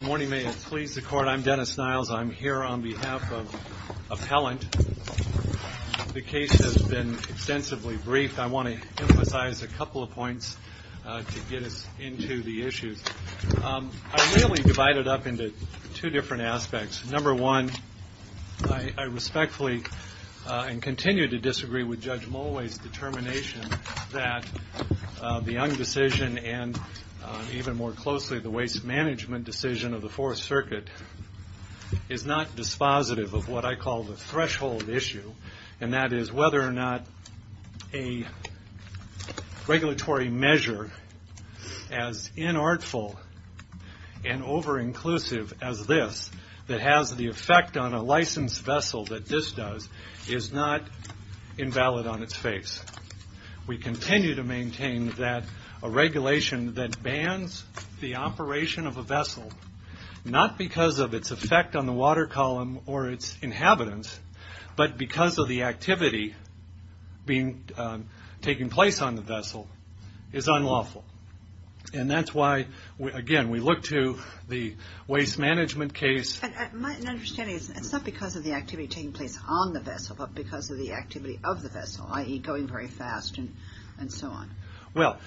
Good morning, may it please the Court. I'm Dennis Niles. I'm here on behalf of Appellant. The case has been extensively briefed. I want to emphasize a couple of points to get us into the issues. I really divide it up into two different aspects. Number one, I respectfully and continue to disagree with Judge Mulway's determination that the Young decision and even more closely the waste management decision of the Fourth Circuit is not dispositive of what I call the threshold issue, and that is whether or not a regulatory measure as inartful and over-inclusive as this that has the effect on a licensed vessel that this does is not invalid on its face. We continue to maintain that a regulation that bans the operation of a vessel, not because of its effect on the water column or its inhabitants, but because of the activity taking place on the vessel, is unlawful. And that's why, again, we look to the waste management case. My understanding is it's not because of the activity taking place on the vessel, but because of the activity of the vessel, i.e. going very fast and so on. Well,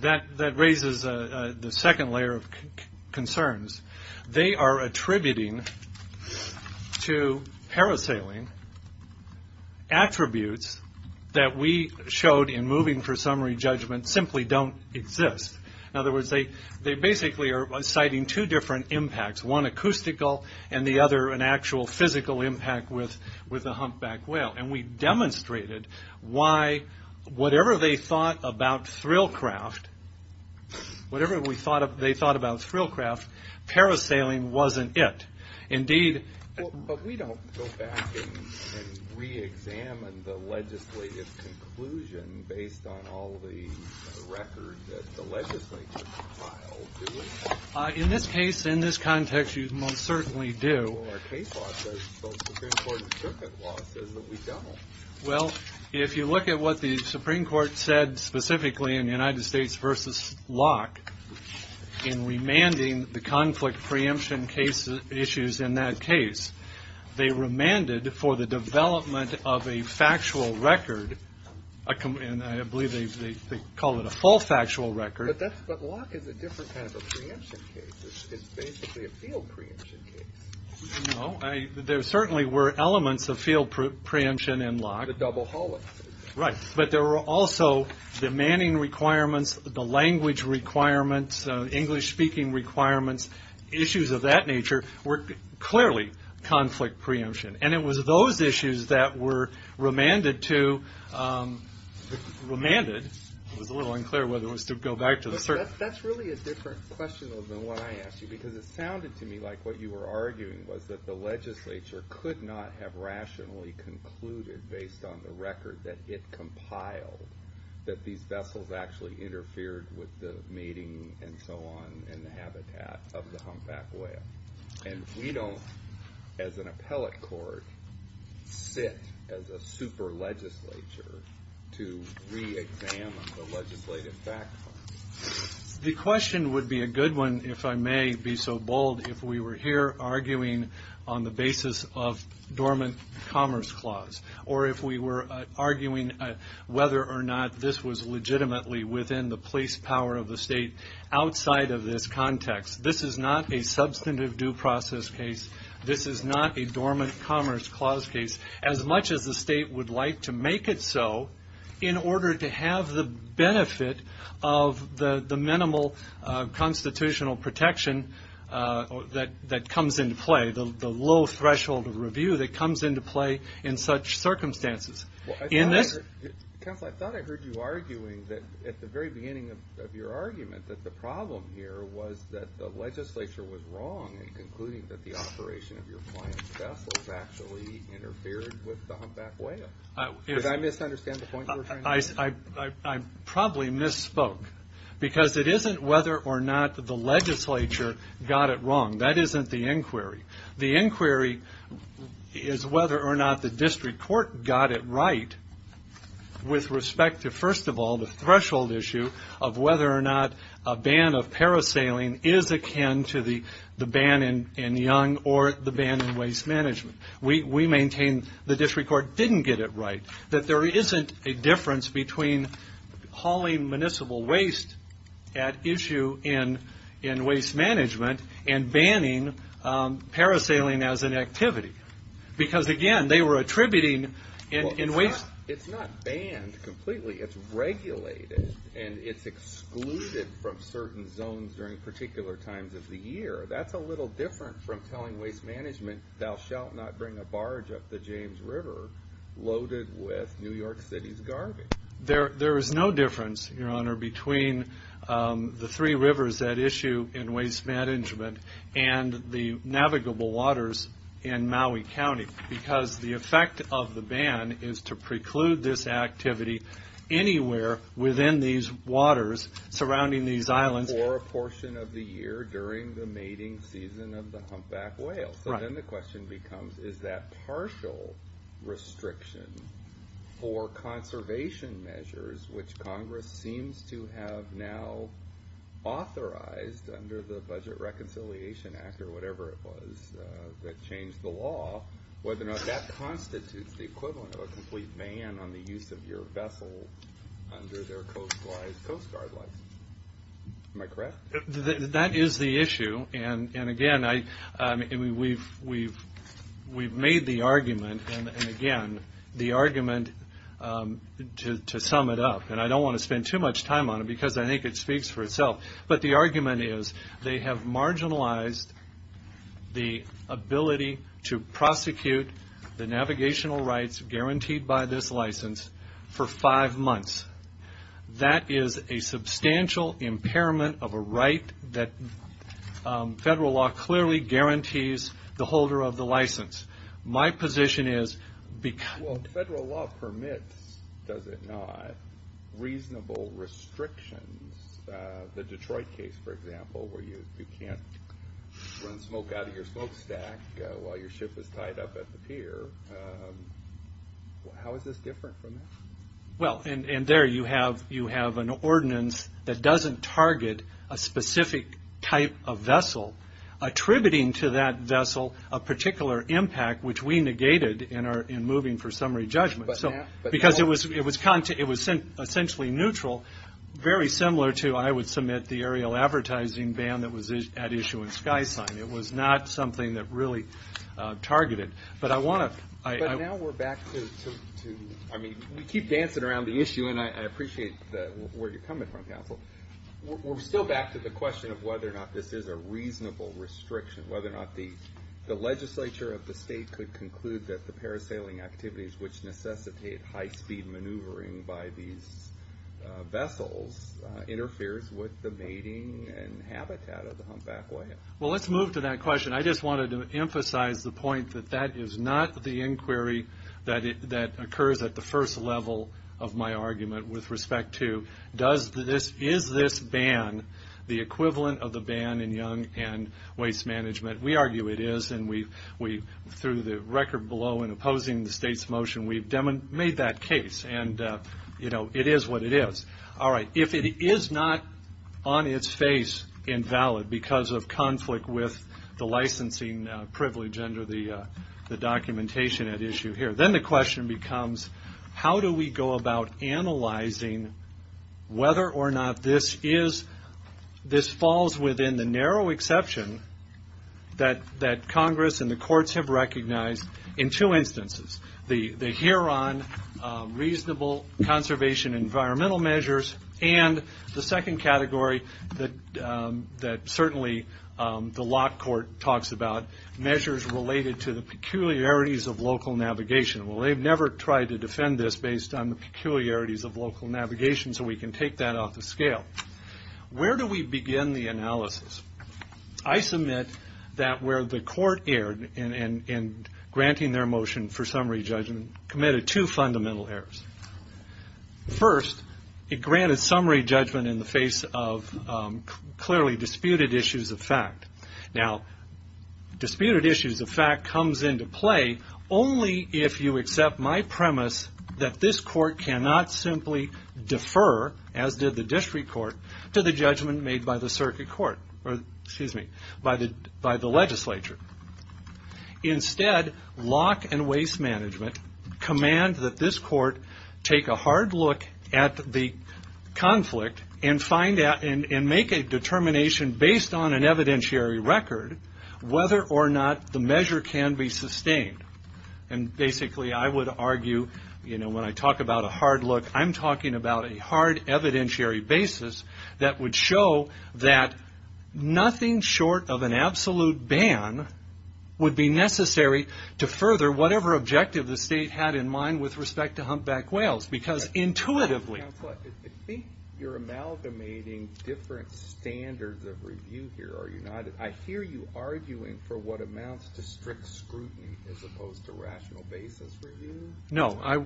that raises the second layer of concerns. They are attributing to parasailing attributes that we showed in moving for summary judgment simply don't exist. In other words, they basically are citing two different impacts, one acoustical and the other an actual physical impact with a humpback whale. And we demonstrated why, whatever they thought about Thrillcraft, parasailing wasn't it. Indeed... In this case, in this context, you most certainly do. Well, our case law says, the Supreme Court's circuit law says that we don't. Well, if you look at what the Supreme Court said specifically in the United States versus Locke in remanding the conflict preemption cases, issues in that case, they remanded for the development of a factual record, and I believe they call it a full factual record. But Locke is a different kind of a preemption case. It's basically a field preemption case. No, there certainly were elements of field preemption in Locke. The double hollow. Right, but there were also the manning requirements, the language requirements, English speaking requirements, issues of that nature were clearly conflict preemption. And it was those issues that were remanded to... It was a little unclear whether it was to go back to the circuit. That's really a different question than what I asked you, because it sounded to me like what you were arguing was that the legislature could not have rationally concluded based on the record that it compiled, that these vessels actually interfered with the mating and so on in the habitat of the humpback whale. And we don't, as an appellate court, sit as a super legislature to re-examine the legislative background. The question would be a good one, if I may be so bold, if we were here arguing on the basis of dormant commerce clause, or if we were arguing whether or not this was legitimately within the police power of the state outside of this context. This is not a substantive due process case. This is not a dormant commerce clause case, as much as the state would like to make it so in order to have the benefit of the minimal constitutional protection that comes into play, the low threshold of review that comes into play in such circumstances. I thought I heard you arguing that at the very beginning of your argument that the problem here was that the legislature was wrong in concluding that the operation of your client's vessels actually interfered with the humpback whale. Did I misunderstand the point you were trying to make? I probably misspoke, because it isn't whether or not the legislature got it wrong. That they got it right with respect to, first of all, the threshold issue of whether or not a ban of parasailing is akin to the ban in Yonge or the ban in waste management. We maintain the district court didn't get it right, that there isn't a difference between hauling municipal waste at issue in waste management and banning parasailing as an activity. Because again, they were attributing in waste... It's not banned completely. It's regulated. It's excluded from certain zones during particular times of the year. That's a little different from telling waste management, thou shalt not bring a barge up the James River loaded with New York City's garbage. There is no difference, your honor, between the three rivers at issue in waste management and the navigable waters in Maui County. Because the effect of the ban is to preclude this activity anywhere within these waters surrounding these islands. Or a portion of the year during the mating season of the humpback whale. Right. Then the question becomes, is that partial restriction for conservation measures, which is a part of the Reconciliation Act, or whatever it was, that changed the law, whether or not that constitutes the equivalent of a complete ban on the use of your vessel under their Coast Guard license. Am I correct? That is the issue, and again, we've made the argument, and again, the argument, to sum it up, and I don't want to spend too much time on it because I think it speaks for itself, but the argument is, they have marginalized the ability to prosecute the navigational rights guaranteed by this license for five months. That is a substantial impairment of a right that federal law clearly guarantees the holder of the license. My position is, because... Does it not? Reasonable restrictions, the Detroit case, for example, where you can't run smoke out of your smokestack while your ship is tied up at the pier, how is this different from that? There you have an ordinance that doesn't target a specific type of vessel, attributing to that vessel a particular impact, which we negated in moving for summary judgment. Because it was essentially neutral, very similar to, I would submit, the aerial advertising ban that was at issue in SkySign. It was not something that really targeted. But now we're back to, I mean, we keep dancing around the issue, and I appreciate where you're coming from, counsel. We're still back to the question of whether or not this is a reasonable restriction, whether or not the legislature of the state could conclude that the parasailing activities, which necessitate high speed maneuvering by these vessels, interferes with the mating and habitat of the humpback whale. Well, let's move to that question. I just wanted to emphasize the point that that is not the inquiry that occurs at the first level of my argument with respect to, is this ban the equivalent of the ban in young and waste management? We argue it is, and through the record below in opposing the state's motion, we've made that case, and it is what it is. All right, if it is not on its face invalid because of conflict with the licensing privilege under the documentation at issue here, then the question becomes, how do we go about analyzing whether or not this falls within the narrow exception that Congress and the courts have recognized in two instances, the Huron Reasonable Conservation Environmental Measures, and the second category that certainly the Lock Court talks about, measures related to the peculiarities of local navigation. Well, they've never tried to defend this based on the peculiarities of local navigation, so we can take that off the scale. Where do we begin the analysis? I submit that where the court erred in granting their motion for summary judgment committed two fundamental errors. First, it granted summary judgment in the face of clearly disputed issues of fact. Now, disputed issues of fact comes into play only if you accept my premise that this court cannot simply defer, as did the district court, to the judgment made by the circuit court, or excuse me, by the legislature. Instead, lock and waste management command that this court take a hard look at the conflict and make a determination based on an evidentiary record, whether or not the measure can be sustained. Basically, I would argue, when I talk about a hard look, I'm talking about a hard evidentiary basis that would show that nothing short of an absolute ban would be necessary to further whatever objective the state had in mind with respect to Humpback Creek. I hear you arguing for what amounts to strict scrutiny as opposed to rational basis review. No, I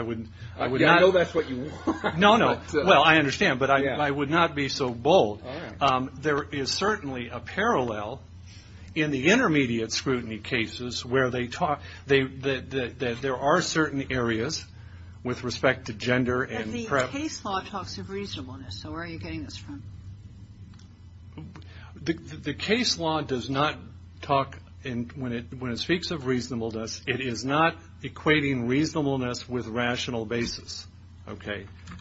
would not. I know that's what you want. No, no. Well, I understand, but I would not be so bold. There is certainly a parallel in the intermediate scrutiny cases where there are certain areas with respect to gender and race. Where are you getting this from? The case law does not talk, when it speaks of reasonableness, it is not equating reasonableness with rational basis.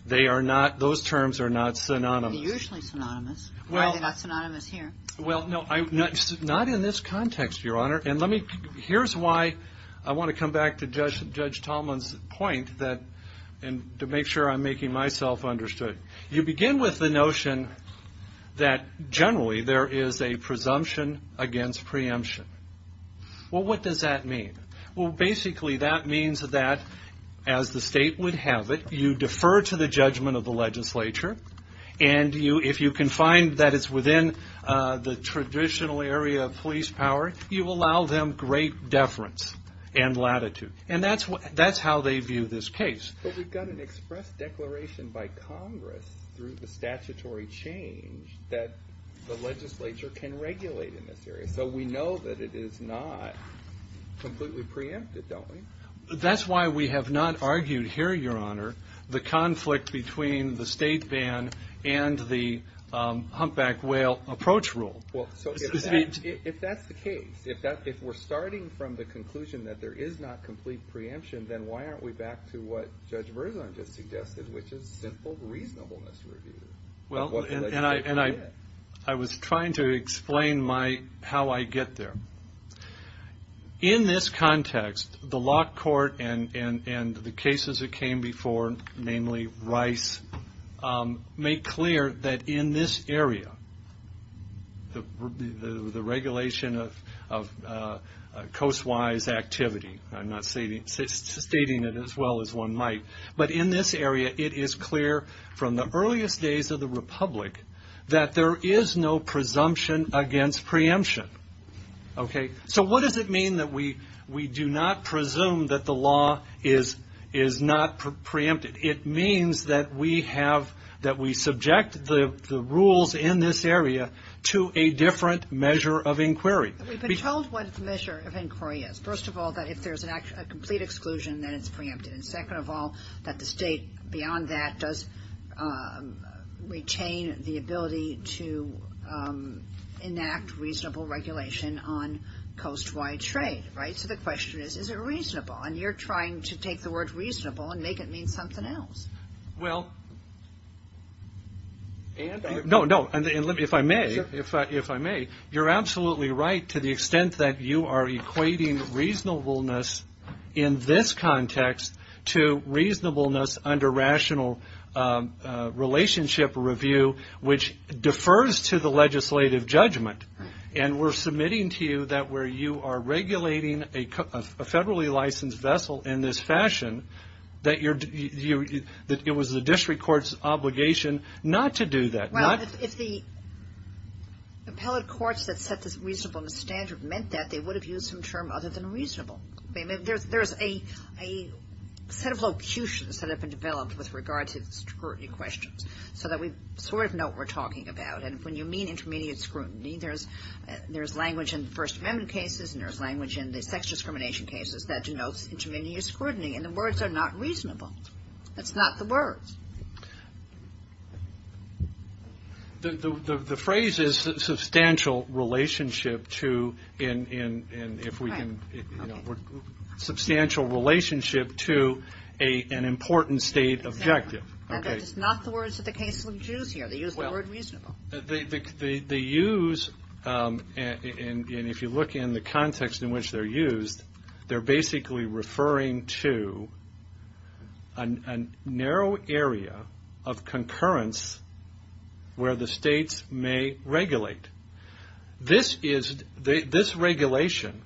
Those terms are not synonymous. They're usually synonymous. Why are they not synonymous here? Not in this context, Your Honor. Here's why I want to come back to Judge Tallman's point and to make sure I'm making myself understood. You begin with the notion that generally there is a presumption against preemption. What does that mean? Basically that means that, as the state would have it, you defer to the judgment of the legislature. If you can find that it's within the traditional area of police power, you allow them great deference and latitude. That's how they view this case. But we've got an express declaration by Congress through the statutory change that the legislature can regulate in this area. So we know that it is not completely preempted, don't we? That's why we have not argued here, Your Honor, the conflict between the state ban and the humpback whale approach rule. If that's the case, if we're starting from the conclusion that there is not complete preemption, then why aren't we back to what Judge Verzon just suggested, which is simple reasonableness review? I was trying to explain how I get there. In this context, the Lock Court and the cases that came before, namely Rice, make clear that in this area, the regulation of coast-wise activity, I'm not stating it as well as one might, but in this area it is clear from the earliest days of the republic that there is no presumption against preemption. So what does it mean that we do not presume that the law is not preempted? It means that we subject the rules in this area to a different measure of inquiry. We've been told what the measure of inquiry is. First of all, that if there's a complete exclusion, then it's preempted. And second of all, that the state beyond that does retain the ability to enact reasonable regulation on coast-wide trade, right? So the question is is it reasonable? And you're trying to take the word reasonable and make it mean something else. Well, and if I may, you're absolutely right to the extent that you are equating reasonableness in this context to reasonableness under rational relationship review, which defers to the legislative judgment. And we're submitting to you that where you are regulating a federally licensed vessel in this fashion, that it was the district court's obligation not to do that, not to do that. Well, if the appellate courts that set this reasonableness standard meant that, they would have used some term other than reasonable. There's a set of locutions that have been developed with regard to scrutiny questions so that we sort of know what we're talking about. And when you mean intermediate scrutiny, there's language in the First Amendment cases, and there's language in the sex discrimination cases that denotes intermediate scrutiny. And the words are not reasonable. That's not the words. The phrase is substantial relationship to an important state objective. That is not the words that the case will use here. They use the word reasonable. They use, and if you look in the context in which they're used, they're basically referring to a narrow area of concurrence where the states may regulate. This regulation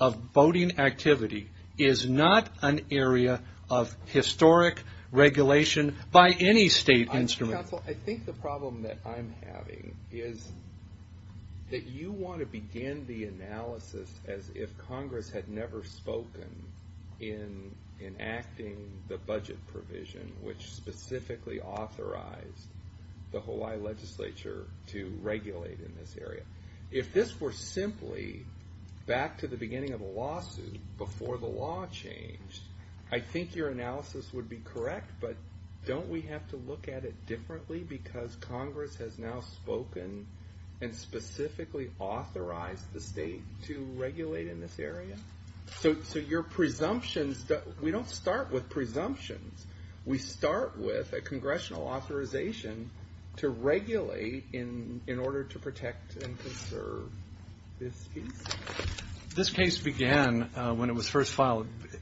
of voting activity is not an area of historic regulation by any state instrument. I think the problem that I'm having is that you want to begin the analysis as if Congress had never spoken in enacting the budget provision which specifically authorized the Hawaii legislature to regulate in this area. If this were simply back to the beginning of a lawsuit before the law changed, I think your analysis would be correct, but don't we have to look at it differently because Congress has now spoken and specifically authorized the state to regulate in this area? So your presumptions, we don't start with presumptions. We start with a congressional authorization to regulate in order to protect and conserve this piece. This case began when it was first filed. It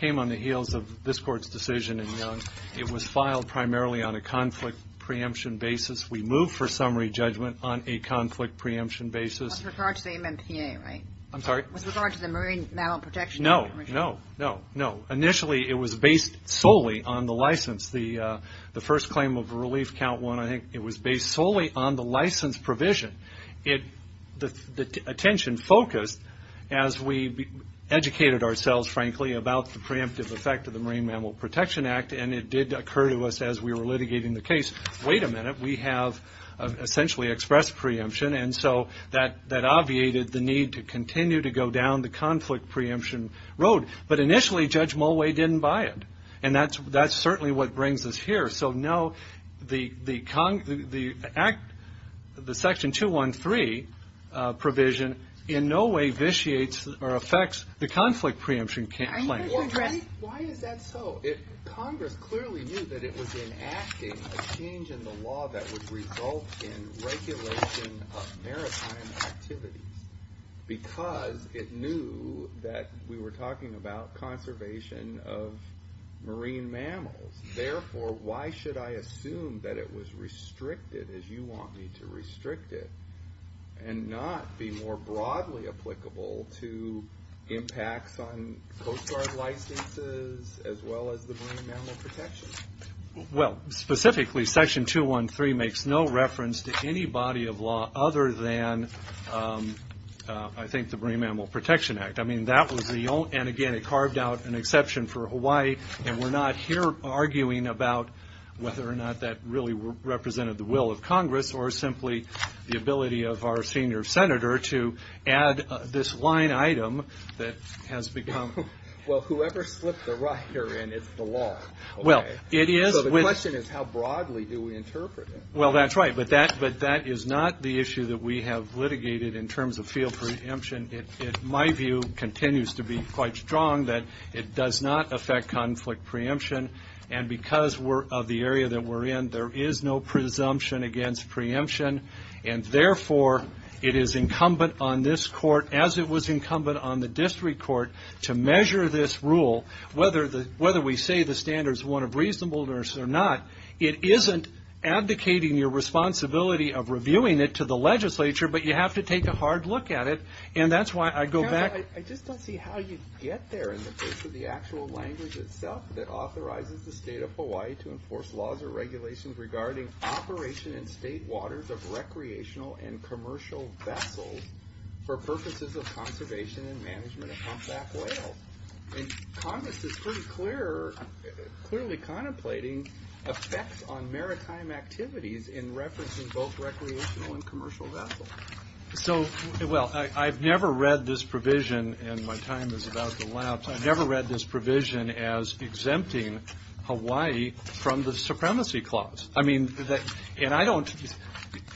came on the heels of this Court's decision in Young. It was filed primarily on a conflict preemption basis. We moved for summary judgment on a conflict preemption basis. With regard to the MMPA, right? I'm sorry? With regard to the Marine Mammal Protection Act. No, no, no. Initially it was based solely on the license. The first claim of relief count one, I think it was based solely on the license provision. The attention focused as we educated ourselves, frankly, about the preemptive effect of the Marine Mammal Protection Act and it did occur to us as we were litigating the case, wait a minute, we have essentially expressed preemption and so that obviated the need to continue to go down the conflict preemption road. But initially Judge Mulway didn't buy it and that's certainly what brings us here. So no, the section 213 provision in no way vitiates or affects the conflict preemption claim. Why is that so? Congress clearly knew that it was enacting a change in the law that would result in regulation of maritime activities because it knew that we were talking about conservation of marine mammals. Therefore, why should I assume that it was restricted as you want me to restrict it and not be more broadly applicable to impacts on coastal marine guard licenses as well as the Marine Mammal Protection Act? Well specifically section 213 makes no reference to any body of law other than I think the Marine Mammal Protection Act. I mean that was the only, and again it carved out an exception for Hawaii and we're not here arguing about whether or not that really represented the will of Congress or simply the ability of our senior senator to add this line item that has become... Well whoever slipped the right here in, it's the law. Well it is... So the question is how broadly do we interpret it? Well that's right, but that is not the issue that we have litigated in terms of field preemption. My view continues to be quite strong that it does not affect conflict preemption and because of the area that we're in, there is no presumption against preemption and therefore it is incumbent on this court as it was incumbent on the district court to measure this rule whether we say the standard is one of reasonableness or not. It isn't abdicating your responsibility of reviewing it to the legislature, but you have to take a hard look at it and that's why I go back... I just don't see how you get there in the face of the actual language itself that authorizes the state of Hawaii to enforce laws or regulations regarding operation in state waters of recreational and commercial vessels for purposes of conservation and management of compact whales. Congress is pretty clear, clearly contemplating effects on maritime activities in reference to both recreational and commercial vessels. So well, I've never read this provision, and my time is about to lapse, I've never read this provision as exempting Hawaii from the supremacy clause. I mean, and I don't...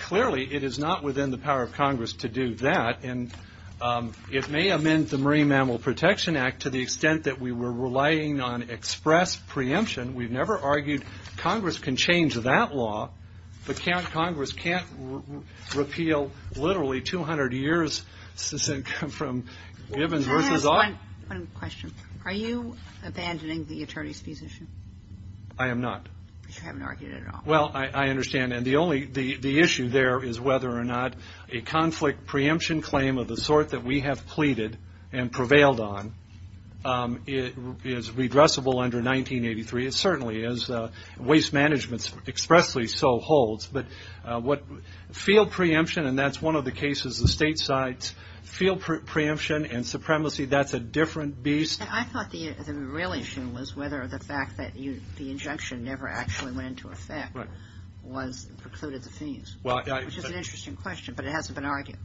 Clearly it is not within the power of Congress to do that, and it may amend the Marine Mammal Protection Act to the extent that we were relying on express preemption. We've never argued Congress can change that law, but Congress can't repeal literally 200 years from given versus... Can I ask one question? Are you abandoning the attorney's position? You haven't argued it at all. Well, I understand, and the issue there is whether or not a conflict preemption claim of the sort that we have pleaded and prevailed on is redressable under 1983. It certainly is. Waste management expressly so holds, but field preemption, and that's one of the cases the state side's field preemption and supremacy, that's a different beast. I thought the real issue was whether the fact that the injunction never actually went into effect precluded the fees, which is an interesting question, but it hasn't been argued.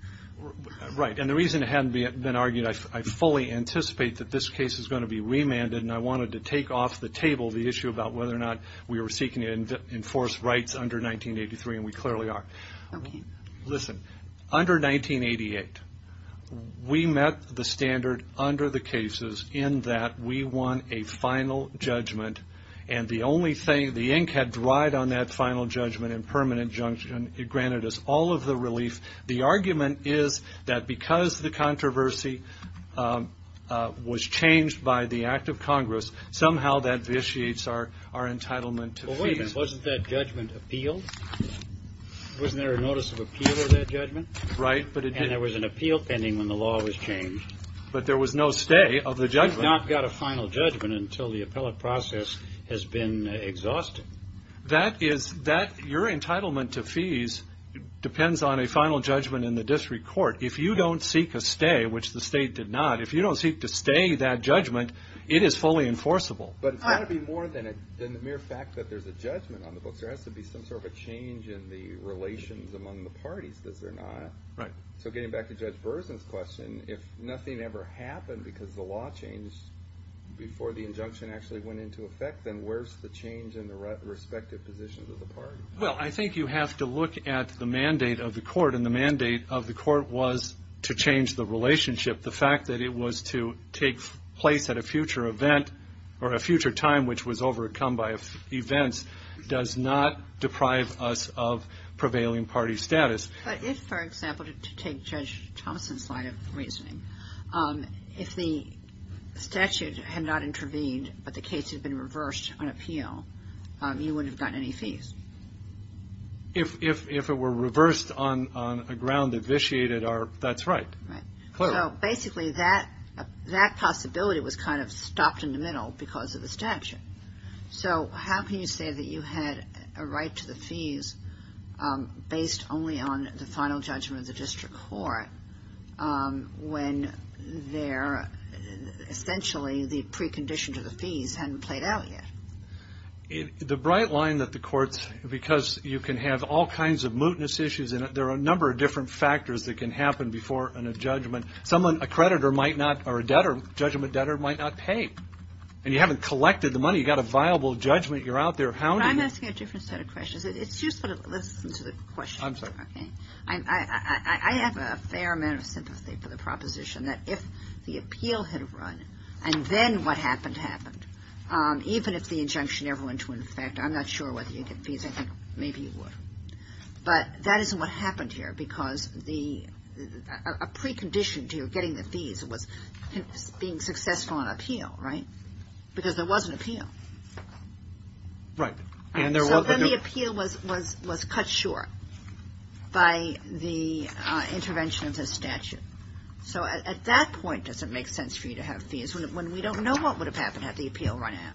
Right, and the reason it hasn't been argued, I fully anticipate that this case is going to be remanded, and I wanted to take off the table the issue about whether or not we were seeking to enforce rights under 1983, and we clearly are. Okay. Listen, under 1988, we met the standard under the cases in that we won a final judgment, and the only thing, the ink had dried on that final judgment in permanent injunction. It granted us all of the relief. The argument is that because the controversy was changed by the act of Congress, somehow that vitiates our entitlement to fees. Wasn't that judgment appealed? Wasn't there a notice of appeal of that judgment? Right, but it didn't. And there was an appeal pending when the law was changed. But there was no stay of the judgment. We've not got a final judgment until the appellate process has been exhausted. That is, your entitlement to fees depends on a final judgment in the district court. If you don't seek a stay, which the state did not, if you don't seek to stay that judgment, it is fully enforceable. But it's got to be more than the mere fact that there's a judgment on the books. There has to be some sort of a change in the relations among the parties, does there not? Right. So getting back to Judge Berzin's question, if nothing ever happened because the law changed before the injunction actually went into effect, then where's the change in the respective positions of the parties? Well, I think you have to look at the mandate of the court, and the mandate of the court was to change the relationship. The fact that it was to take place at a future event, or a future time which was overcome by events, does not deprive us of prevailing party status. But if, for example, to take Judge Thompson's line of reasoning, if the statute had not intervened, but the case had been reversed on appeal, you wouldn't have gotten any fees? If it were reversed on a ground that vitiated our – that's right. Right. So basically, that possibility was kind of stopped in the middle because of the statute. So how can you say that you had a right to the fees based only on the final judgment of the district court when they're – essentially, the precondition to the fees hadn't played out yet? The bright line that the courts – because you can have all kinds of mootness issues in it, there are a number of different factors that can happen before a judgment. Someone – a creditor might not – or a debtor – a judgment debtor might not pay. And you haven't collected the money. You've got a viable judgment. You're out there hounding. I'm asking a different set of questions. It's useful to listen to the question. I'm sorry. Okay? I have a fair amount of sympathy for the proposition that if the appeal had run and then what happened happened, even if the injunction never went into effect, I'm not sure whether you'd get fees. I think maybe you would. But that isn't what happened here because the – a precondition to getting the fees was being successful on appeal, right? Because there was an appeal. Right. And there was – So then the appeal was cut short by the intervention of the statute. So at that point, does it make sense for you to have fees when we don't know what would have happened had the appeal run out?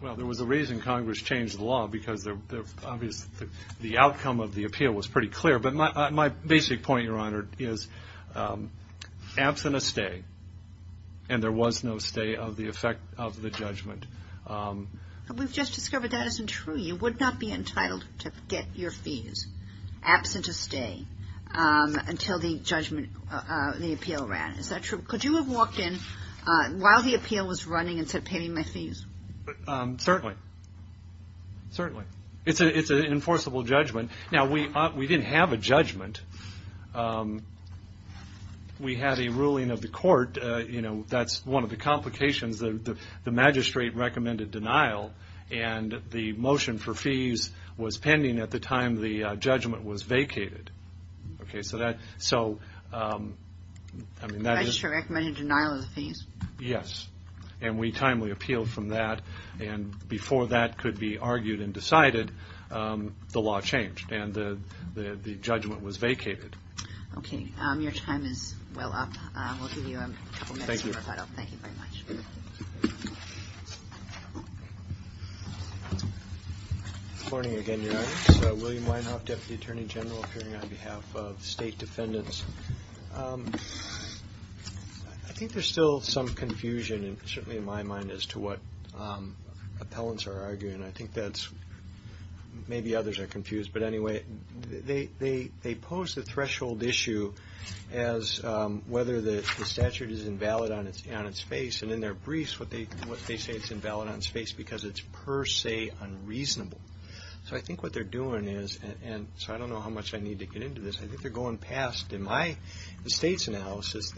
Well, there was a reason Congress changed the law because the outcome of the appeal was pretty clear. But my basic point, Your Honor, is absent a stay, and there was no stay of the effect of the judgment. We've just discovered that isn't true. You would not be entitled to get your fees absent a stay until the judgment – the appeal ran. Is that true? Could you have walked in while the appeal was running instead of paying my fees? Certainly. Certainly. It's an enforceable judgment. Now, we didn't have a judgment. We had a ruling of the court. You know, that's one of the complications. The magistrate recommended denial, and the motion for fees was pending at the time the judgment was vacated. Okay, so that – so, I mean, that is – Yes. And we timely appealed from that, and before that could be argued and decided, the law changed, and the judgment was vacated. Okay. Your time is well up. We'll give you a couple minutes for a thought-out. Thank you very much. Good morning again, Your Honor. It's William Weinhoff, Deputy Attorney General, appearing on behalf of state defendants. I think there's still some confusion, and certainly in my mind, as to what appellants are arguing. I think that's – maybe others are confused, but anyway, they pose the threshold issue as whether the statute is invalid on its face, and in their briefs, what they say it's invalid on its face because it's per se unreasonable. So I think what they're doing is – and so I don't know how much I need to get into this – I think they're going past, in my state's analysis,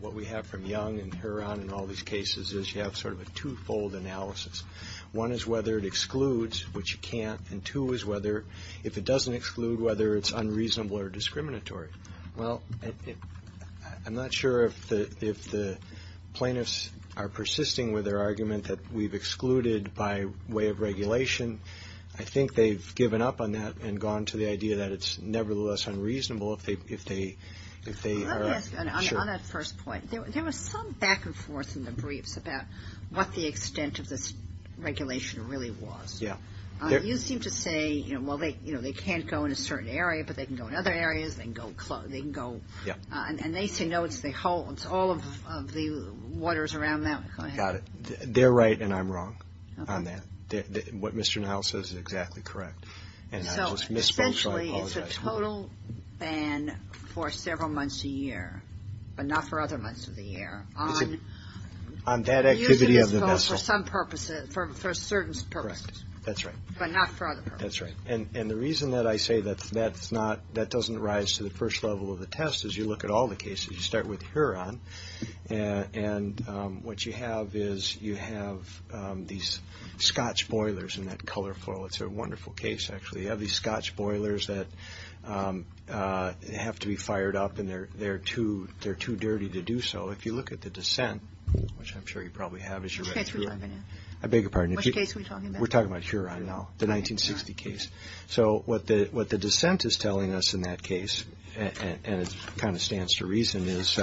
what we have from Young and Heron and all these cases is you have sort of a two-fold analysis. One is whether it excludes, which you can't, and two is whether – if it doesn't exclude, whether it's unreasonable or discriminatory. Well, I'm not sure if the plaintiffs are I think they've given up on that and gone to the idea that it's nevertheless unreasonable if they are – sure. Let me ask, on that first point, there was some back and forth in the briefs about what the extent of this regulation really was. Yeah. You seem to say, well, they can't go in a certain area, but they can go in other areas, they can go – and they say no, it's all of the waters around that. Go ahead. Got it. They're right and I'm wrong on that. What Mr. Niles says is exactly correct. And I just misspoke, so I apologize. So, essentially, it's a total ban for several months a year, but not for other months of the year. Is it – on that activity of the vessel. Using this vote for some purpose, for a certain purpose. Correct. That's right. But not for other purposes. That's right. And the reason that I say that's not – that doesn't rise to the first level of the test is you look at all the cases. You start with Heron, and what you have is you have these scotch boilers, isn't that colorful? It's a wonderful case, actually. You have these scotch boilers that have to be fired up and they're too dirty to do so. If you look at the dissent, which I'm sure you probably have as you read through it. Which case are we talking about? I beg your pardon? Which case are we talking about? We're talking about Heron now, the 1960 case. Sure. So what the dissent is telling us in that case, and it kind of stands to reason, is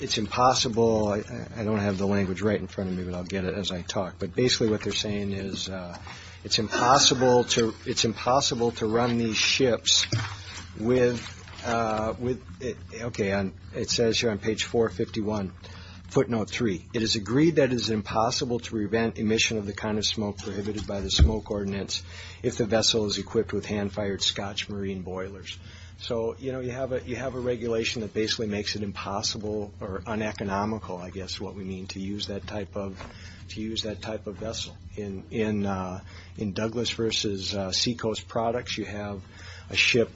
it's impossible – I don't have the language right in front of me, but I'll get it as I talk. But basically what they're saying is it's impossible to run these ships with – okay, it says here on page 451, footnote 3. It is agreed that it is impossible to prevent emission of the kind of smoke prohibited by the smoke ordinance if the vessel is equipped with hand-fired scotch marine boilers. So, you know, you have a regulation that basically makes it impossible or uneconomical, I guess, what we mean to use that type of vessel. In Douglas versus Seacoast Products, you have a ship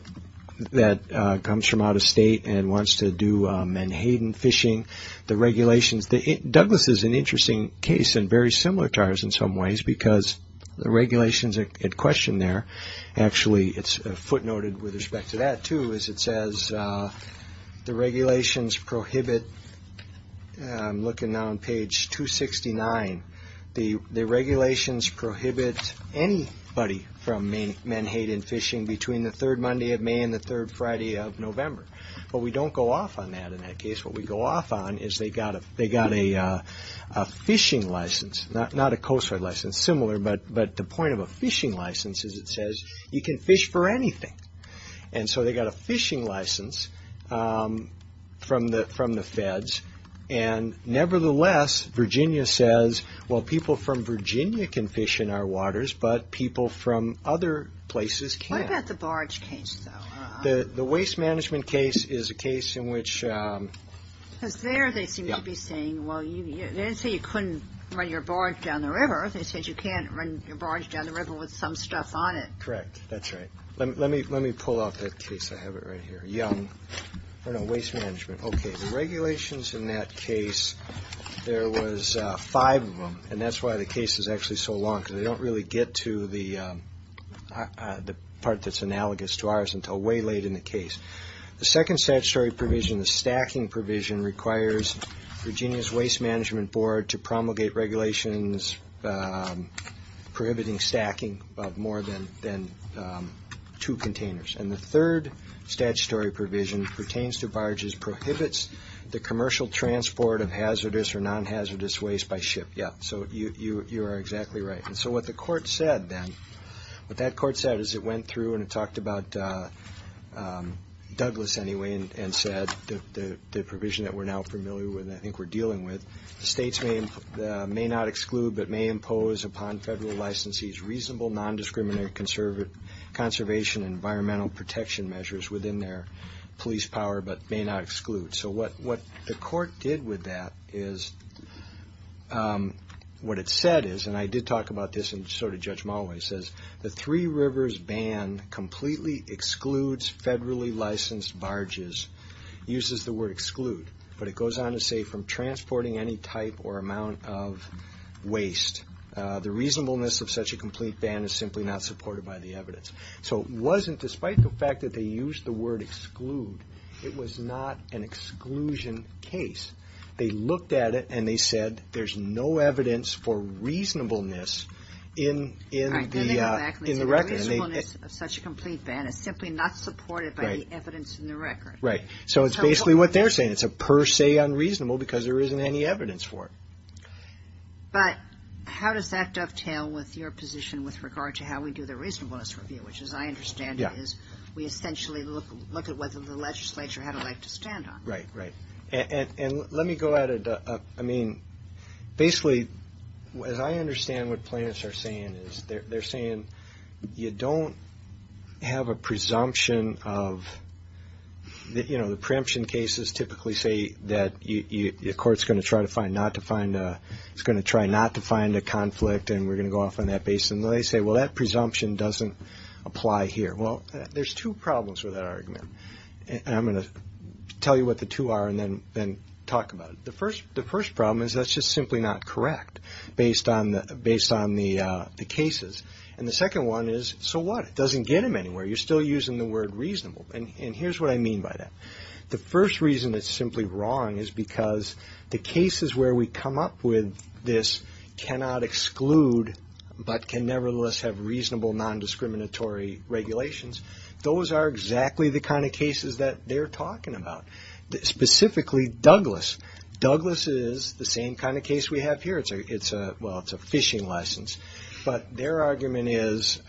that comes from out of state and wants to do Manhattan fishing. The regulations – Douglas is an interesting case and very similar to ours in some ways because the regulations at question there, actually it's footnoted with respect to that too, is it says the regulations prohibit – I'm looking now on page 269 – the regulations prohibit anybody from Manhattan fishing between the third Monday of May and the third Friday of November. But we don't go off on that in that case. What we go off on is they got a fishing license, not a coast guard license, similar, but the point of a fishing license is it says you can fish for anything. And so they got a fishing license from the feds. And nevertheless, Virginia says, well, people from Virginia can fish in our waters, but people from other places can't. What about the barge case, though? The waste management case is a case in which – Because there they seem to be saying, well, they didn't say you couldn't run your barge down the river with some stuff on it. Correct. That's right. Let me pull off that case. I have it right here. Young. Oh, no. Waste management. Okay. The regulations in that case, there was five of them, and that's why the case is actually so long because they don't really get to the part that's analogous to ours until way late in the case. The second statutory provision, the stacking provision, requires Virginia's Waste Management Board to promulgate regulations prohibiting stacking of more than two containers. And the third statutory provision pertains to barges, prohibits the commercial transport of hazardous or non-hazardous waste by ship. Yeah. So you are exactly right. And so what the court said then, what that court said is it went through and it talked about Douglas, anyway, and said the provision that we're now familiar with and I think we're dealing with, states may not exclude but may impose upon federal licensees reasonable non-discriminatory conservation and environmental protection measures within their police power but may not exclude. So what the court did with that is what it said is, and I did talk about this and so did Judge Mulway, says the Three Rivers Ban completely excludes federally licensed barges, uses the word exclude, but it goes on to say from transporting any type or amount of waste, the reasonableness of such a complete ban is simply not supported by the evidence. So it wasn't, despite the fact that they used the word exclude, it was not an exclusion case. They looked at it and they said there's no evidence for reasonableness in the record. And they said the reasonableness of such a complete ban is simply not supported by the evidence in the record. Right. So it's basically what they're saying. It's a per se unreasonable because there isn't any evidence for it. But how does that dovetail with your position with regard to how we do the reasonableness review, which as I understand it is we essentially look at whether the legislature had a right to stand on it. Right, right. And let me go ahead. I mean, basically, as I understand what plaintiffs are saying is they're saying you don't have a presumption of, you know, the preemption cases typically say that the court's going to try not to find a conflict and we're going to go off on that base. And they say, well, that presumption doesn't apply here. Well, there's two problems with that The first problem is that's just simply not correct based on the cases. And the second one is, so what? It doesn't get them anywhere. You're still using the word reasonable. And here's what I mean by that. The first reason it's simply wrong is because the cases where we come up with this cannot exclude but can nevertheless have reasonable nondiscriminatory regulations. Those are exactly the kind of cases that they're talking about. Specifically Douglas. Douglas is the same kind of case we have here. It's a fishing license. But their argument is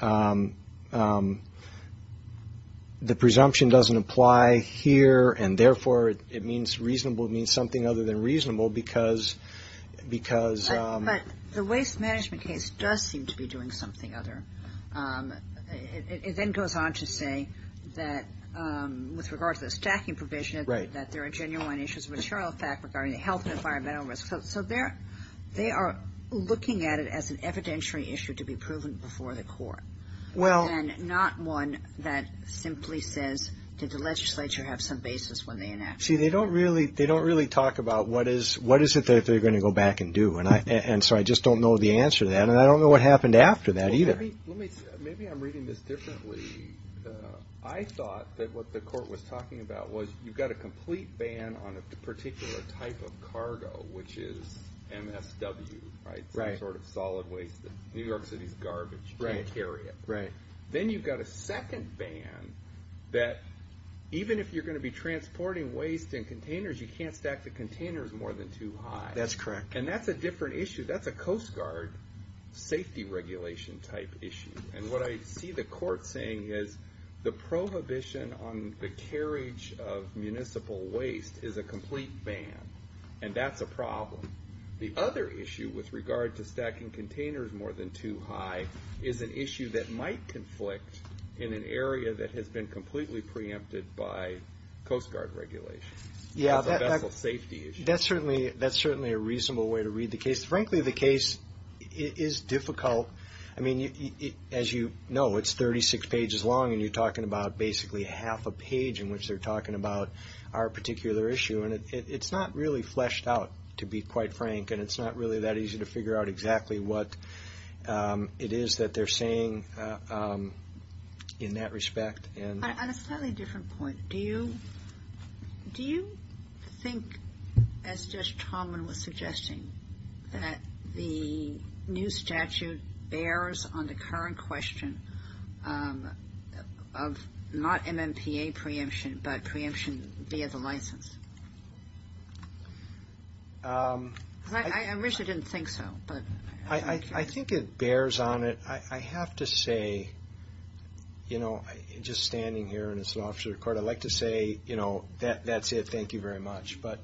the presumption doesn't apply here and therefore it means reasonable means something other than reasonable because But the waste management case does seem to be doing something other. It then goes on to say that with regard to the stacking provision, that there are genuine issues of material fact regarding the health and environmental risk. So they are looking at it as an evidentiary issue to be proven before the court. And not one that simply says, did the legislature have some basis when they enacted it? See, they don't really talk about what is it that they're going to go back and do. And so I just don't know the answer to that. And I don't know what happened after that either. Maybe I'm reading this differently. I thought that what the court was talking about was you've got a complete ban on a particular type of cargo, which is MSW, right? Some sort of solid waste. New York City's garbage. You can't carry it. Then you've got a second ban that even if you're going to be transporting waste in containers, you can't stack the containers more than two high. That's correct. And that's a different issue. That's a Coast Guard safety regulation type issue. And what I see the court saying is the prohibition on the carriage of municipal waste is a complete ban. And that's a problem. The other issue with regard to stacking containers more than two high is an issue that might conflict in an area that has been completely preempted by Coast Guard regulation. Yeah. That's a vessel safety issue. That's certainly a reasonable way to read the case. Frankly, the case is difficult. I mean, as you know, it's 36 pages long and you're talking about basically half a page in which they're talking about our particular issue. And it's not really fleshed out, to be quite frank. And it's not really that easy to figure out exactly what it is that they're saying in that respect. On a slightly different point, do you think, as Judge Tallman was suggesting, that the new statute bears on the current question of not MMPA preemption, but preemption via the license? I originally didn't think so. I think it bears on it. I have to say, you know, just standing here as an officer of court, I'd like to say, you know, that's it. Thank you very much. But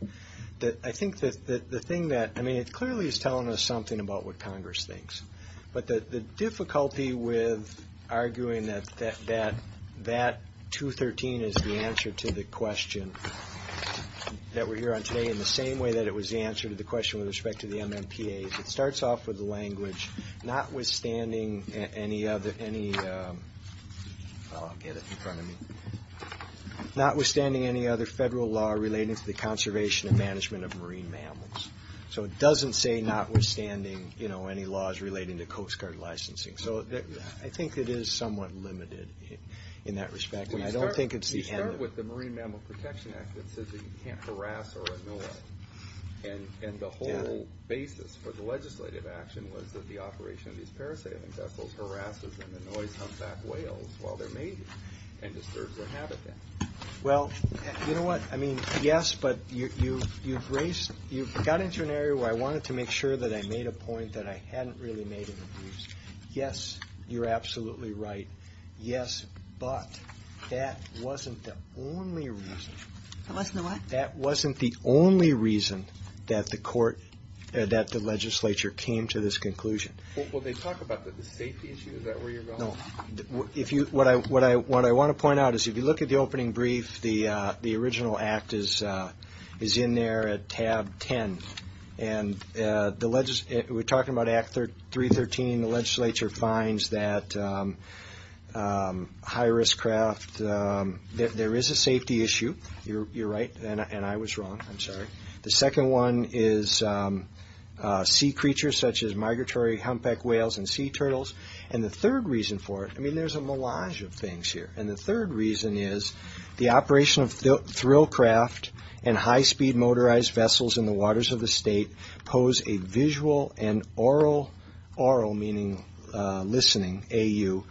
I think that the thing that, I mean, it clearly is telling us something about what Congress thinks. But the difficulty with arguing that that 213 is the answer to the question that we're here on today in the same way that it was the answer to the question with respect to the MMPA, is it starts off with the language, notwithstanding any other, I'll get it in front of me, notwithstanding any other federal law relating to the conservation and management of marine mammals. So it doesn't say notwithstanding, you know, any laws relating to Coast Guard licensing. So I think it is somewhat limited in that respect. And I don't think it's the end of it. We start with the Marine Mammal Protection Act that says that you can't harass or annoy whales. And the whole basis for the legislative action was that the operation of these parasailing vessels harasses and annoys humpback whales while they're mating and disturbs their habitat. Well, you know what? I mean, yes, but you've got into an area where I wanted to make sure that I made a point that I hadn't really made in the briefs. Yes, you're absolutely right. Yes, but that wasn't the only reason. That wasn't the what? That wasn't the only reason that the court, that the legislature came to this conclusion. Well, they talk about the safety issue. Is that where you're going? No. What I want to point out is if you look at the opening brief, the original act is in there at tab 10. And we're talking about Act 313. The legislature finds that high-risk craft, there is a safety issue. You're right, and I was wrong. I'm sorry. The second one is sea creatures such as migratory humpback whales and sea turtles. And the third reason for it, I mean, there's a melange of things here. And the third reason is the operation of thrill craft and high-speed motorized vessels in the waters of the state pose a visual and aural, aural meaning listening, AU,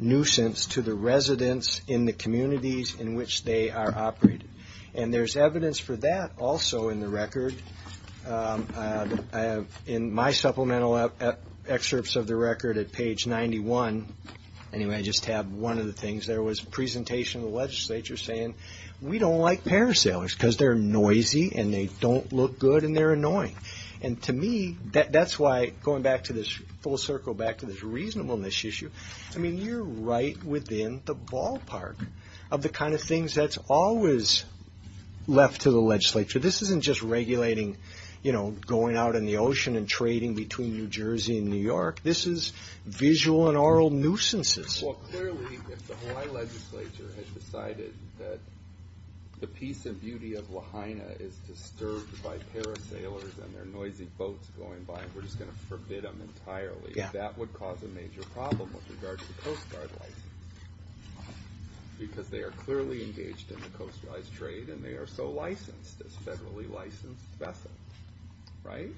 nuisance to the residents in the communities in which they are operating. And there's evidence for that also in the record. In my supplemental excerpts of the record at page 91, anyway, I just have one of the things, there was a we don't like parasailers because they're noisy and they don't look good and they're annoying. And to me, that's why going back to this full circle, back to this reasonableness issue, I mean, you're right within the ballpark of the kind of things that's always left to the legislature. This isn't just regulating, you know, going out in the ocean and trading between New Jersey and New York. This is visual and aural nuisances. Well, clearly, if the Hawaii legislature has decided that the peace and beauty of Lahaina is disturbed by parasailers and their noisy boats going by, we're just going to forbid them entirely. That would cause a major problem with regard to the Coast Guard license. Because they are clearly engaged in the coastalized trade and they are so licensed as federally licensed vessels, right?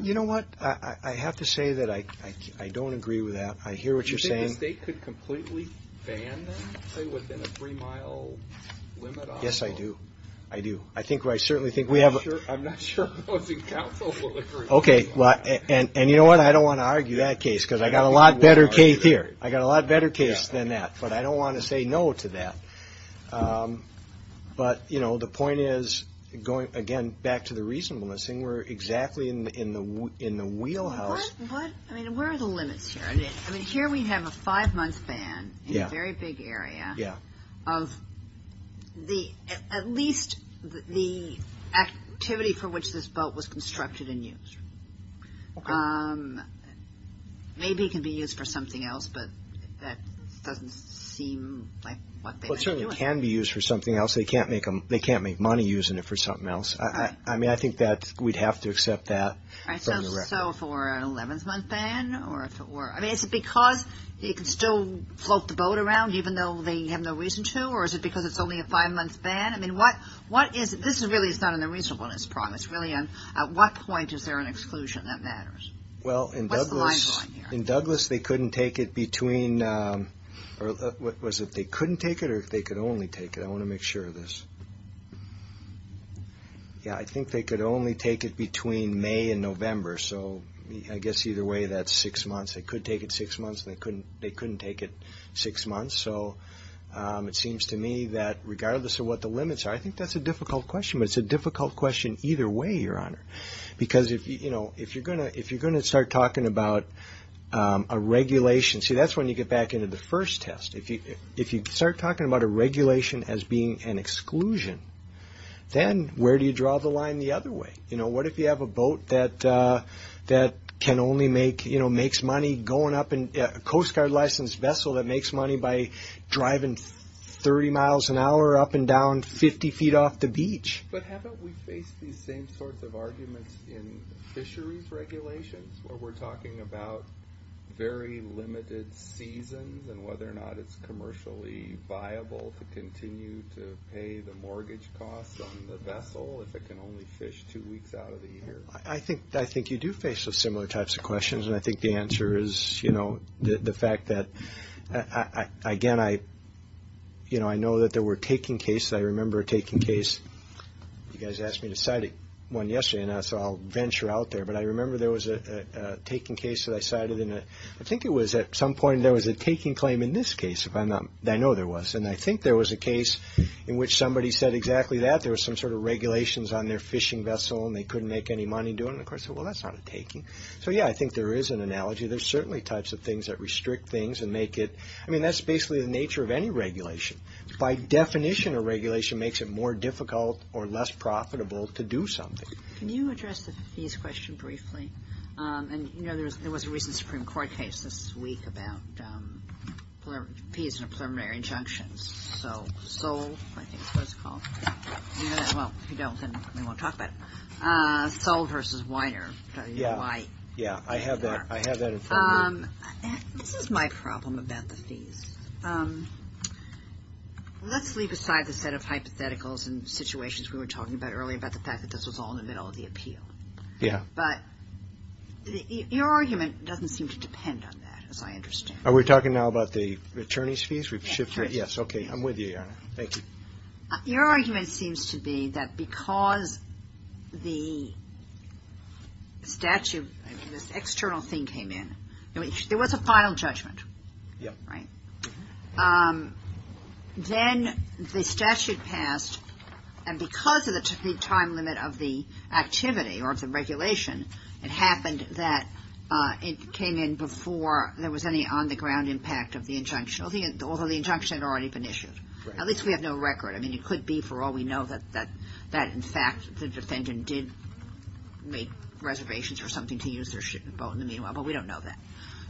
You know what? I have to say that I don't agree with that. I hear what you're saying. Do you think the state could completely ban them, say, within a three-mile limit on them? Yes, I do. I do. I think I certainly think we have... I'm not sure opposing counsel will agree with that. Okay, well, and you know what? I don't want to argue that case because I got a lot better case here. I got a lot better case than that. But I don't want to say no to that. But, you know, the point is, again, going back to the reasonableness thing, we're exactly in the wheelhouse... Well, what... I mean, where are the limits here? I mean, here we have a five-month ban in a very big area of the... at least the activity for which this boat was constructed and used. Maybe it can be used for something else, but that doesn't seem like what they might be doing. Well, it certainly can be used for something else. They can't make money using it for something else. I mean, I think that we'd have to accept that from the... All right, so if it were an 11-month ban or if it were... I mean, is it because you can still float the boat around even though they have no reason to, or is it because it's only a five-month ban? I mean, what is... This really is not an reasonableness problem. It's really a... At what point is there an exclusion that matters? Well, in Douglas... What's the line going here? In Douglas, they couldn't take it between... Was it they couldn't take it or they could only take it? I want to make sure of this. Yeah, I think they could only take it between May and November, so I guess either way that's six months. They could take it six months and they couldn't take it six months, so it seems to me that regardless of what the limits are... I think that's a difficult question, but it's a difficult question either way, Your Honor, because if you're going to start talking about a regulation... See, that's when you get back into the first test. If you start talking about a regulation as being an exclusion, then where do you draw the line the other way? What if you have a boat that can only make... Makes money going up in... A Coast Guard-licensed vessel that makes money by driving 30 miles an hour up and down 50 feet off the beach? But haven't we faced these same sorts of arguments in fisheries regulations where we're talking about very limited seasons and whether or not it's commercially viable to continue to pay the mortgage costs on the vessel if it can only fish two weeks out of the year? I think you do face similar types of questions, and I think the answer is the fact that... Again, I know that there were taking cases. I remember a taking case. You guys asked me I cited one yesterday, and so I'll venture out there, but I remember there was a taking case that I cited in a... I think it was at some point there was a taking claim in this case, if I'm not... I know there was, and I think there was a case in which somebody said exactly that. There was some sort of regulations on their fishing vessel, and they couldn't make any money doing it. Of course, I said, well, that's not a taking. So yeah, I think there is an analogy. There's certainly types of things that restrict things and make it... I mean, that's basically the nature of any regulation. By definition, a regulation makes it more difficult or less profitable to do something. Can you address the fees question briefly? And, you know, there was a recent Supreme Court case this week about fees and preliminary injunctions. So Sol, I think is what it's called. You know that? Well, if you don't, then we won't talk about it. Sol versus Weiner. This is my problem about the fees. Let's leave aside the set of hypotheticals and situations we were talking about earlier about the fact that this was all in the middle of the appeal. Yeah. But your argument doesn't seem to depend on that, as I understand. Are we talking now about the attorney's fees? We've shifted... Yes, okay. I'm with you, Your Honor. Thank you. Your argument seems to be that because the statute, this external thing came in, there was a final judgment. Yeah. Right? Then the statute passed, and because of the time limit of the activity or the regulation, it happened that it came in before there was any on-the-ground impact of the injunction, although the injunction had already been issued. Right. At least we have no record. I mean, it could be, for all we know, that in fact the defendant did make reservations or something to use their ship and boat in the meanwhile, but we don't know that.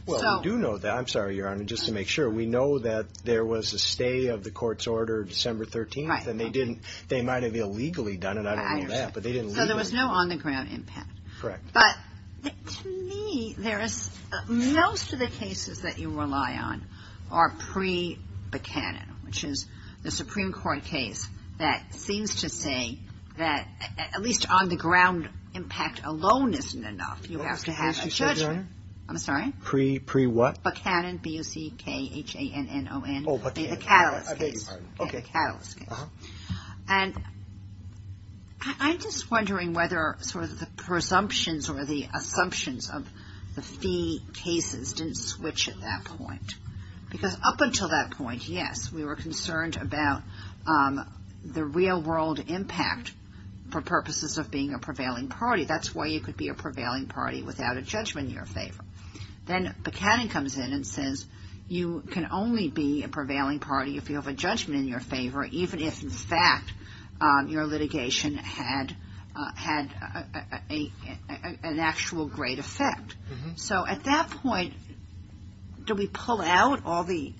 Well, we do know that. I'm sorry, Your Honor, just to make sure. We know that there was a stay of the court's order December 13th, and they didn't... They might have illegally done it. I don't know that. I understand. But they didn't legally... So there was no on-the-ground impact. Correct. But to me, most of the cases that you rely on are pre-Buckhannon, which is the Supreme Court case that seems to say that at least on-the-ground impact alone isn't enough. You have to have a judge... Pre-what? Buckhannon, B-U-C-K-H-A-N-N-O-N. Oh, Buckhannon. The catalyst case. Okay. And I'm just wondering whether sort of the presumptions or the assumptions of the fee cases didn't switch at that point. Because up until that point, yes, we were concerned about the real-world impact for purposes of being a prevailing party. That's why you could be a prevailing party without a judgment in your favor. Then Buckhannon comes in and says you can only be a prevailing party if you have a judgment in your favor, even if in fact your litigation had an actual great effect. So at that point, do we pull out all the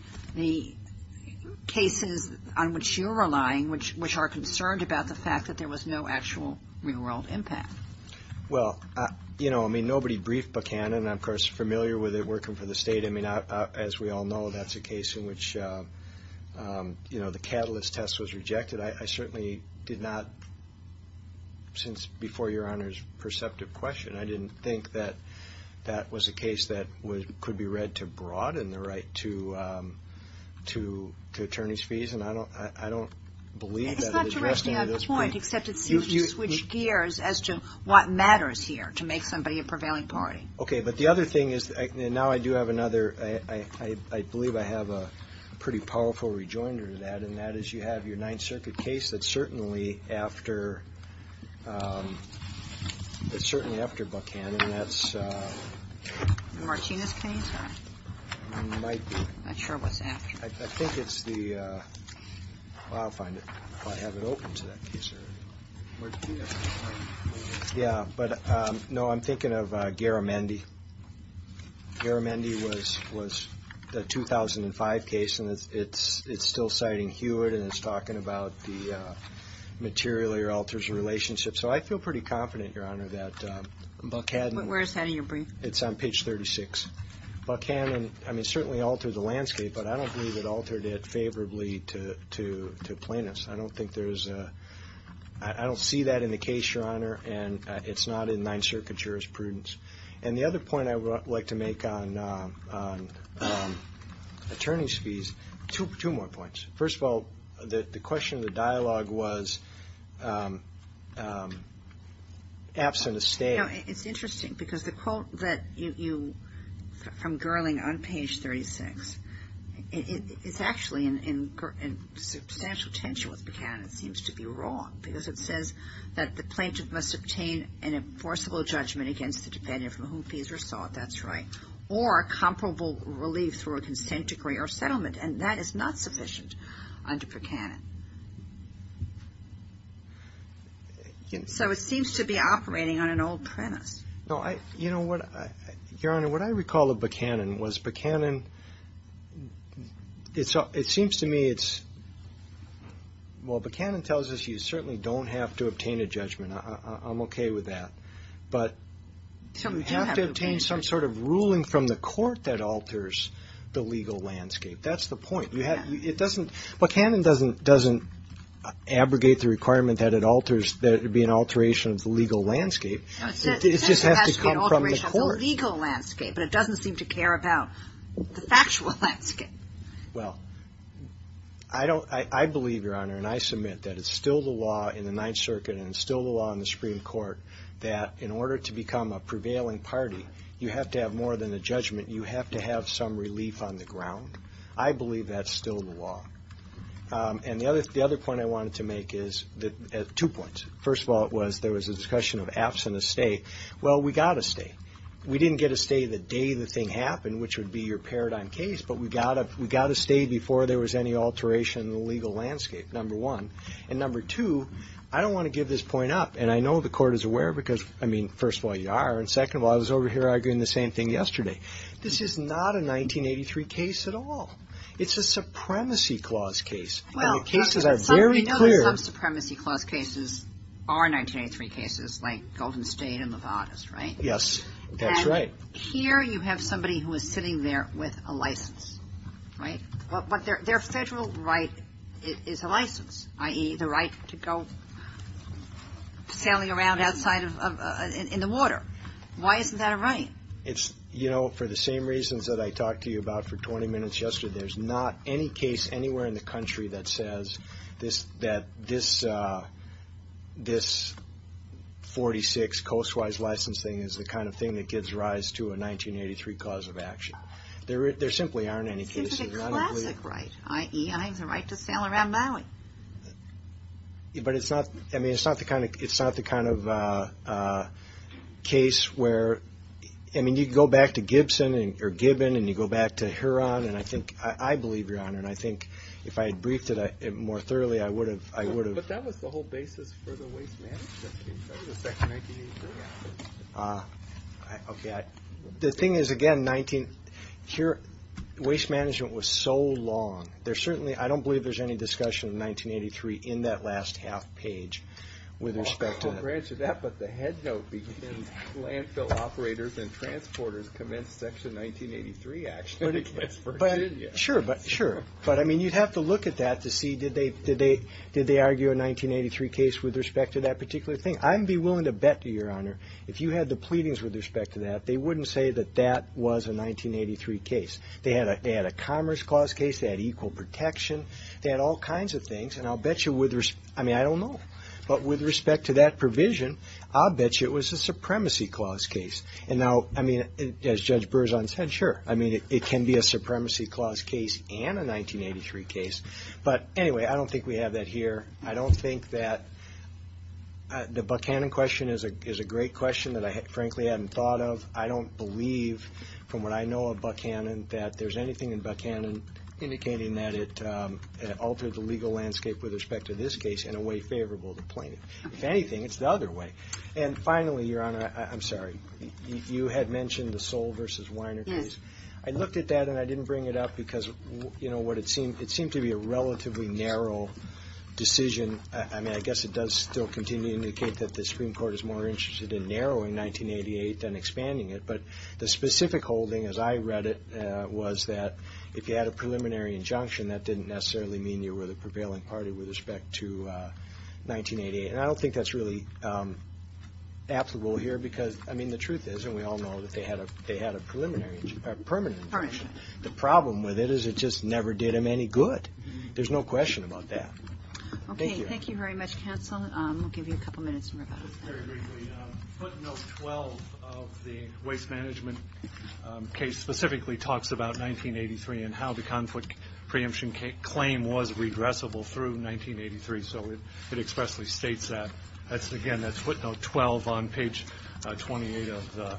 cases on which you're relying, which are concerned about the fact that there was no actual real-world impact? Well, you know, I mean, nobody briefed Buckhannon. I'm, of course, familiar with it working for the state. I mean, as we all know, that's a case in which, you know, the catalyst test was rejected. I certainly did not, since before Your Honor's perceptive question, I didn't think that that was a case that could be read to broad and the right to attorney's fees. And I don't believe that it addressed any of those things. It's not directionally on point, except it seems to switch gears as to what matters here to make somebody a prevailing party. Okay, but the other thing is, now I do have another, I believe I have a pretty powerful rejoinder to that, and that is you have your Ninth Circuit case that's certainly after Buckhannon. The Martinez case? Might be. I'm not sure what's after. I think it's the, well, I'll find it if I have it open to that case area. Yeah, but, no, I'm thinking of Garamendi. Garamendi was the 2005 case, and it's still citing Hewitt, and it's talking about the materially alters relationship. So I feel pretty confident, Your Honor, that Buckhannon Where is that in your brief? It's on page 36. Buckhannon, I mean, certainly altered the landscape, but I don't believe it altered it favorably to plaintiffs. I don't think there's, I don't see that in the case, Your Honor, and it's not in Ninth Circuit jurisprudence. And the other point I would like to make on attorney's fees, two more points. First of all, the question of the dialogue was absent a state. You know, it's interesting, because the quote that you, from Gerling on page 36, it's actually in substantial tension with Buckhannon. It seems to be wrong, because it says that the plaintiff must obtain an enforceable judgment against the defendant from whom fees are sought, that's right, or comparable relief through a consent decree or settlement, and that is not sufficient under Buckhannon. So it seems to be operating on an old premise. No, I, you know what, Your Honor, what I recall of Buckhannon was Buckhannon, it seems to me it's, well, Buckhannon tells us you certainly don't have to obtain a judgment, I'm okay with that, but you have to obtain some sort of ruling from the court that alters the legal landscape. Well, I don't, I believe, Your Honor, and I submit that it's still the law in the Ninth Circuit and it's still the law in the Supreme Court that in order to become a prevailing party, you have to have more than a judgment, you have to have some relief on the ground. I believe that's still the law. And the other point I wanted to make is, two points, first of all, it was there was a discussion of absent a stay, well, we got a stay, we didn't get a stay the day the thing happened, which would be your paradigm case, but we got a stay before there was any alteration in the legal landscape, number one, and number two, I don't want to give this point up, and I know the court is aware because, I mean, first of all, you are, and second of all, I was over here arguing the same thing yesterday, this is not a 1983 case at all. It's a Supremacy Clause case, and the cases are very clear. But we know that some Supremacy Clause cases are 1983 cases, like Golden State and Levada's, right? Yes, that's right. And here you have somebody who is sitting there with a license, right? But their federal right is a license, i.e., the right to go sailing around outside in the water. Why isn't that a right? It's, you know, for the same reasons that I talked to you about for 20 minutes yesterday, there's not any case anywhere in the country that says that this 46 coast-wise license thing is the kind of thing that gives rise to a 1983 cause of action. There simply aren't any cases. It's a classic right, i.e., the right to sail around Maui. But it's not the kind of case where, I mean, you go back to Gibson or Gibbon, and you go back to Huron, and I think, I believe, Your Honor, and I think if I had briefed it more thoroughly, I would have... The thing is, again, waste management was so long. I don't believe there's any discussion of 1983 in that last half page with respect to that. I'll grant you that, but the headnote begins, Landfill operators and transporters commence Section 1983 action against Virginia. But, I mean, you'd have to look at that to see, did they argue a 1983 case with respect to that particular thing? I'd be willing to bet, Your Honor, if you had the pleadings with respect to that, they wouldn't say that that was a 1983 case. They had a commerce clause case. They had equal protection. They had all kinds of things, and I'll bet you with respect... I mean, I don't know, but with respect to that provision, I'll bet you it was a supremacy clause case. And now, I mean, as Judge Berzon said, sure, I mean, it can be a supremacy clause case and a 1983 case. But, anyway, I don't think we have that here. I don't think that... The Buckhannon question is a great question that I frankly hadn't thought of. I don't believe, from what I know of Buckhannon, that there's anything in Buckhannon indicating that it altered the legal landscape with respect to this case in a way favorable to plaintiff. If anything, it's the other way. And, finally, Your Honor, I'm sorry, you had mentioned the Soule v. Weiner case. I looked at that, and I didn't bring it up because, you know, it seemed to be a relatively narrow decision. I mean, I guess it does still continue to indicate that the Supreme Court is more interested in narrowing 1988 than expanding it, but the specific holding, as I read it, was that if you had a preliminary injunction, that didn't necessarily mean you were the prevailing party with respect to 1988. And I don't think that's really applicable here because, I mean, the truth is, and we all know that they had a permanent injunction. The problem with it is it just never did them any good. There's no question about that. Thank you. Okay, thank you very much, counsel. We'll give you a couple minutes. Just very briefly, footnote 12 of the waste management case specifically talks about 1983 and how the conflict preemption claim was regressible through 1983, so it expressly states that. Again, that's footnote 12 on page 28 of the,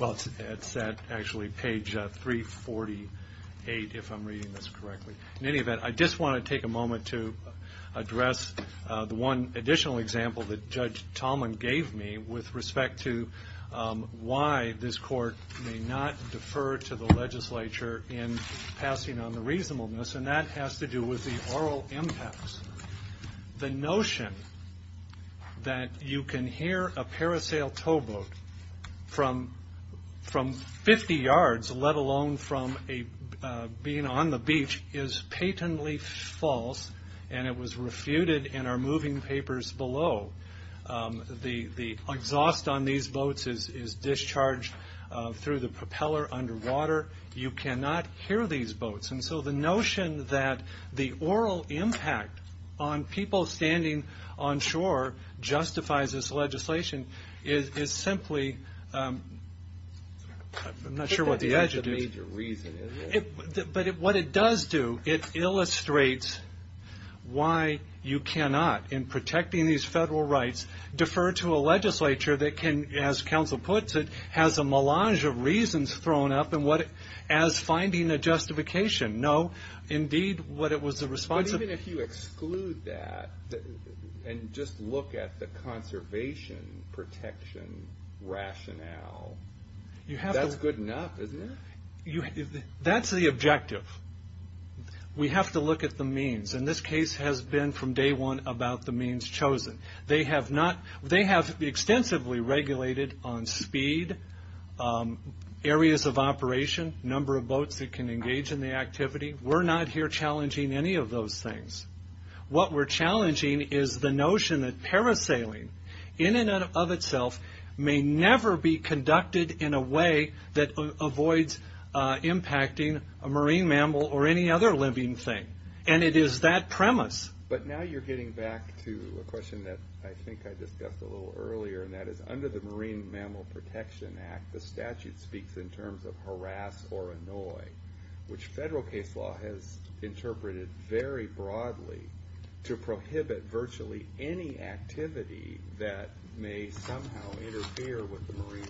well, it's actually page 348, if I'm reading this correctly. In any event, I just want to take a moment to address the one additional example that Judge Tallman gave me with respect to why this court may not defer to the legislature in passing on the reasonableness, and that has to do with the oral impacts. The notion that you can hear a parasail towboat from 50 yards, let alone from being on the beach, is patently false, and it was refuted in our moving papers below. The exhaust on these boats is discharged through the propeller underwater. You cannot hear these boats, and so the notion that the oral impact on people standing on shore justifies this legislation is simply, I'm not sure what the edge is. But what it does do, it illustrates why you cannot, in protecting these federal rights, defer to a legislature that can, as counsel puts it, has a melange of reasons thrown up as finding a justification. No, indeed, what it was the response... But even if you exclude that, and just look at the conservation protection rationale, that's good enough, isn't it? That's the objective. We have to look at the means, and this case has been from day one about the means chosen. They have extensively regulated on speed, areas of operation, number of boats that can engage in the activity. We're not here challenging any of those things. What we're challenging is the notion that parasailing, in and of itself, may never be conducted in a way that avoids impacting a marine mammal or any other living thing, and it is that premise. But now you're getting back to a question that I think I discussed a little earlier, and that is under the Marine Mammal Protection Act, the statute speaks in terms of harass or annoy, which federal case law has interpreted very broadly to prohibit virtually any activity that may somehow interfere with the marine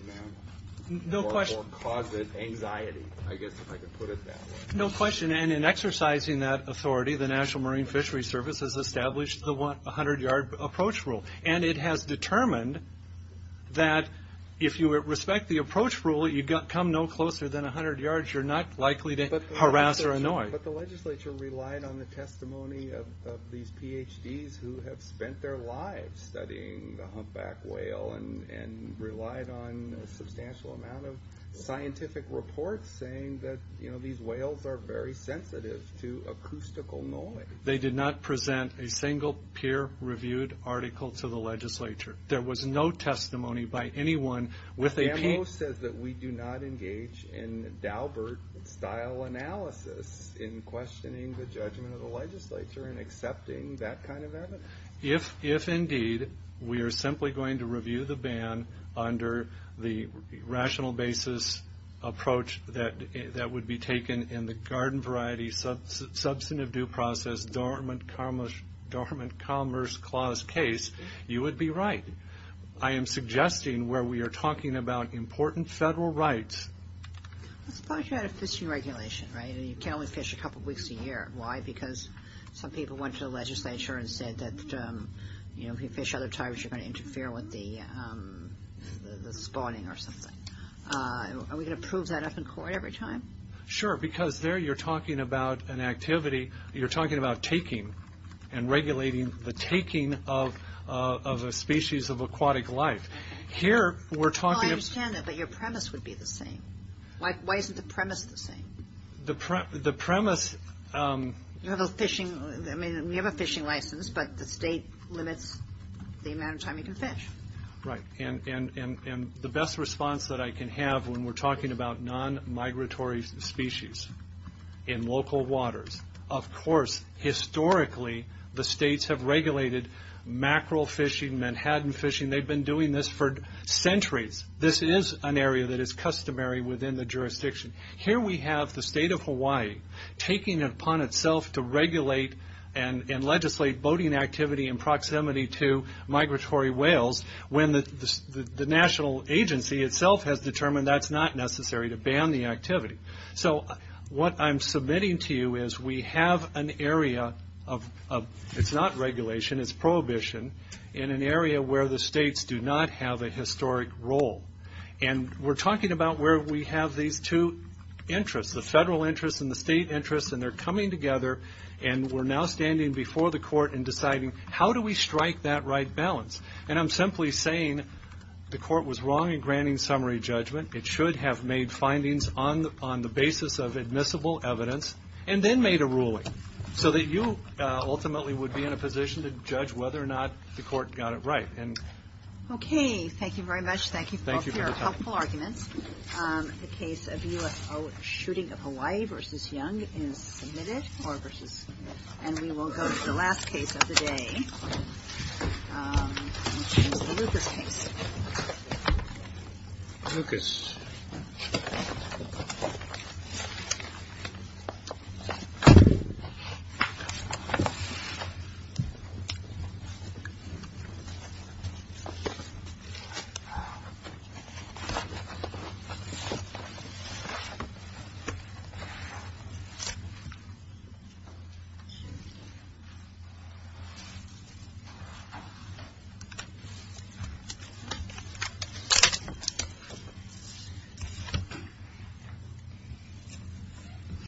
mammal, or cause it anxiety. I guess if I could put it that way. No question, and in exercising that authority, the National Marine Fisheries Service has established the 100-yard approach rule, and it has determined that if you respect the approach rule, you come no closer than 100 yards, you're not likely to harass or annoy. But the legislature relied on the testimony of these PhDs who have spent their lives studying the humpback whale, and relied on a substantial amount of scientific reports saying that these whales are very sensitive to acoustical noise. They did not present a single peer-reviewed article to the legislature. There was no testimony by anyone with a... The memo says that we do not engage in Daubert-style analysis in questioning the judgment of the legislature, and accepting that kind of evidence. If indeed we are simply going to review the ban under the rational basis approach that would be taken in the garden variety substantive due process, dormant commerce clause case, you would be right. I am suggesting where we are talking about important federal rights... I suppose you had a fishing regulation, right? You can only fish a couple of weeks a year. Why? Because some people went to the legislature and said that if you fish other times, you're going to interfere with the spawning or something. Are we going to prove that up in court every time? Sure, because there you're talking about taking and regulating the taking of a species of aquatic life. I understand that, but your premise would be the same. Why isn't the premise the same? You have a fishing license, but the state limits the amount of time you can fish. Right, and the best response that I can have when we're talking about non-migratory species in local waters... Historically, the states have regulated mackerel fishing, Manhattan fishing. They've been doing this for centuries. This is an area that is customary within the jurisdiction. Here we have the state of Hawaii taking it upon itself to regulate and legislate boating activity in proximity to migratory whales when the national agency itself has determined that's not necessary to ban the activity. What I'm submitting to you is we have an area of... It's not regulation, it's prohibition in an area where the states do not have a historic role. We're talking about where we have these two interests, the federal interest and the state interest, and they're coming together and we're now standing before the court and deciding how do we strike that right balance? I'm simply saying the court was wrong in granting summary judgment. It should have made findings on the basis of admissible evidence and then made a ruling so that you ultimately would be in a position to judge whether or not the court got it right. Okay, thank you very much. Thank you for your helpful arguments. The case of UFO shooting of Hawaii v. Young is submitted. And we will go to the last case of the day, which is the Lucas case. Lucas. Thank you.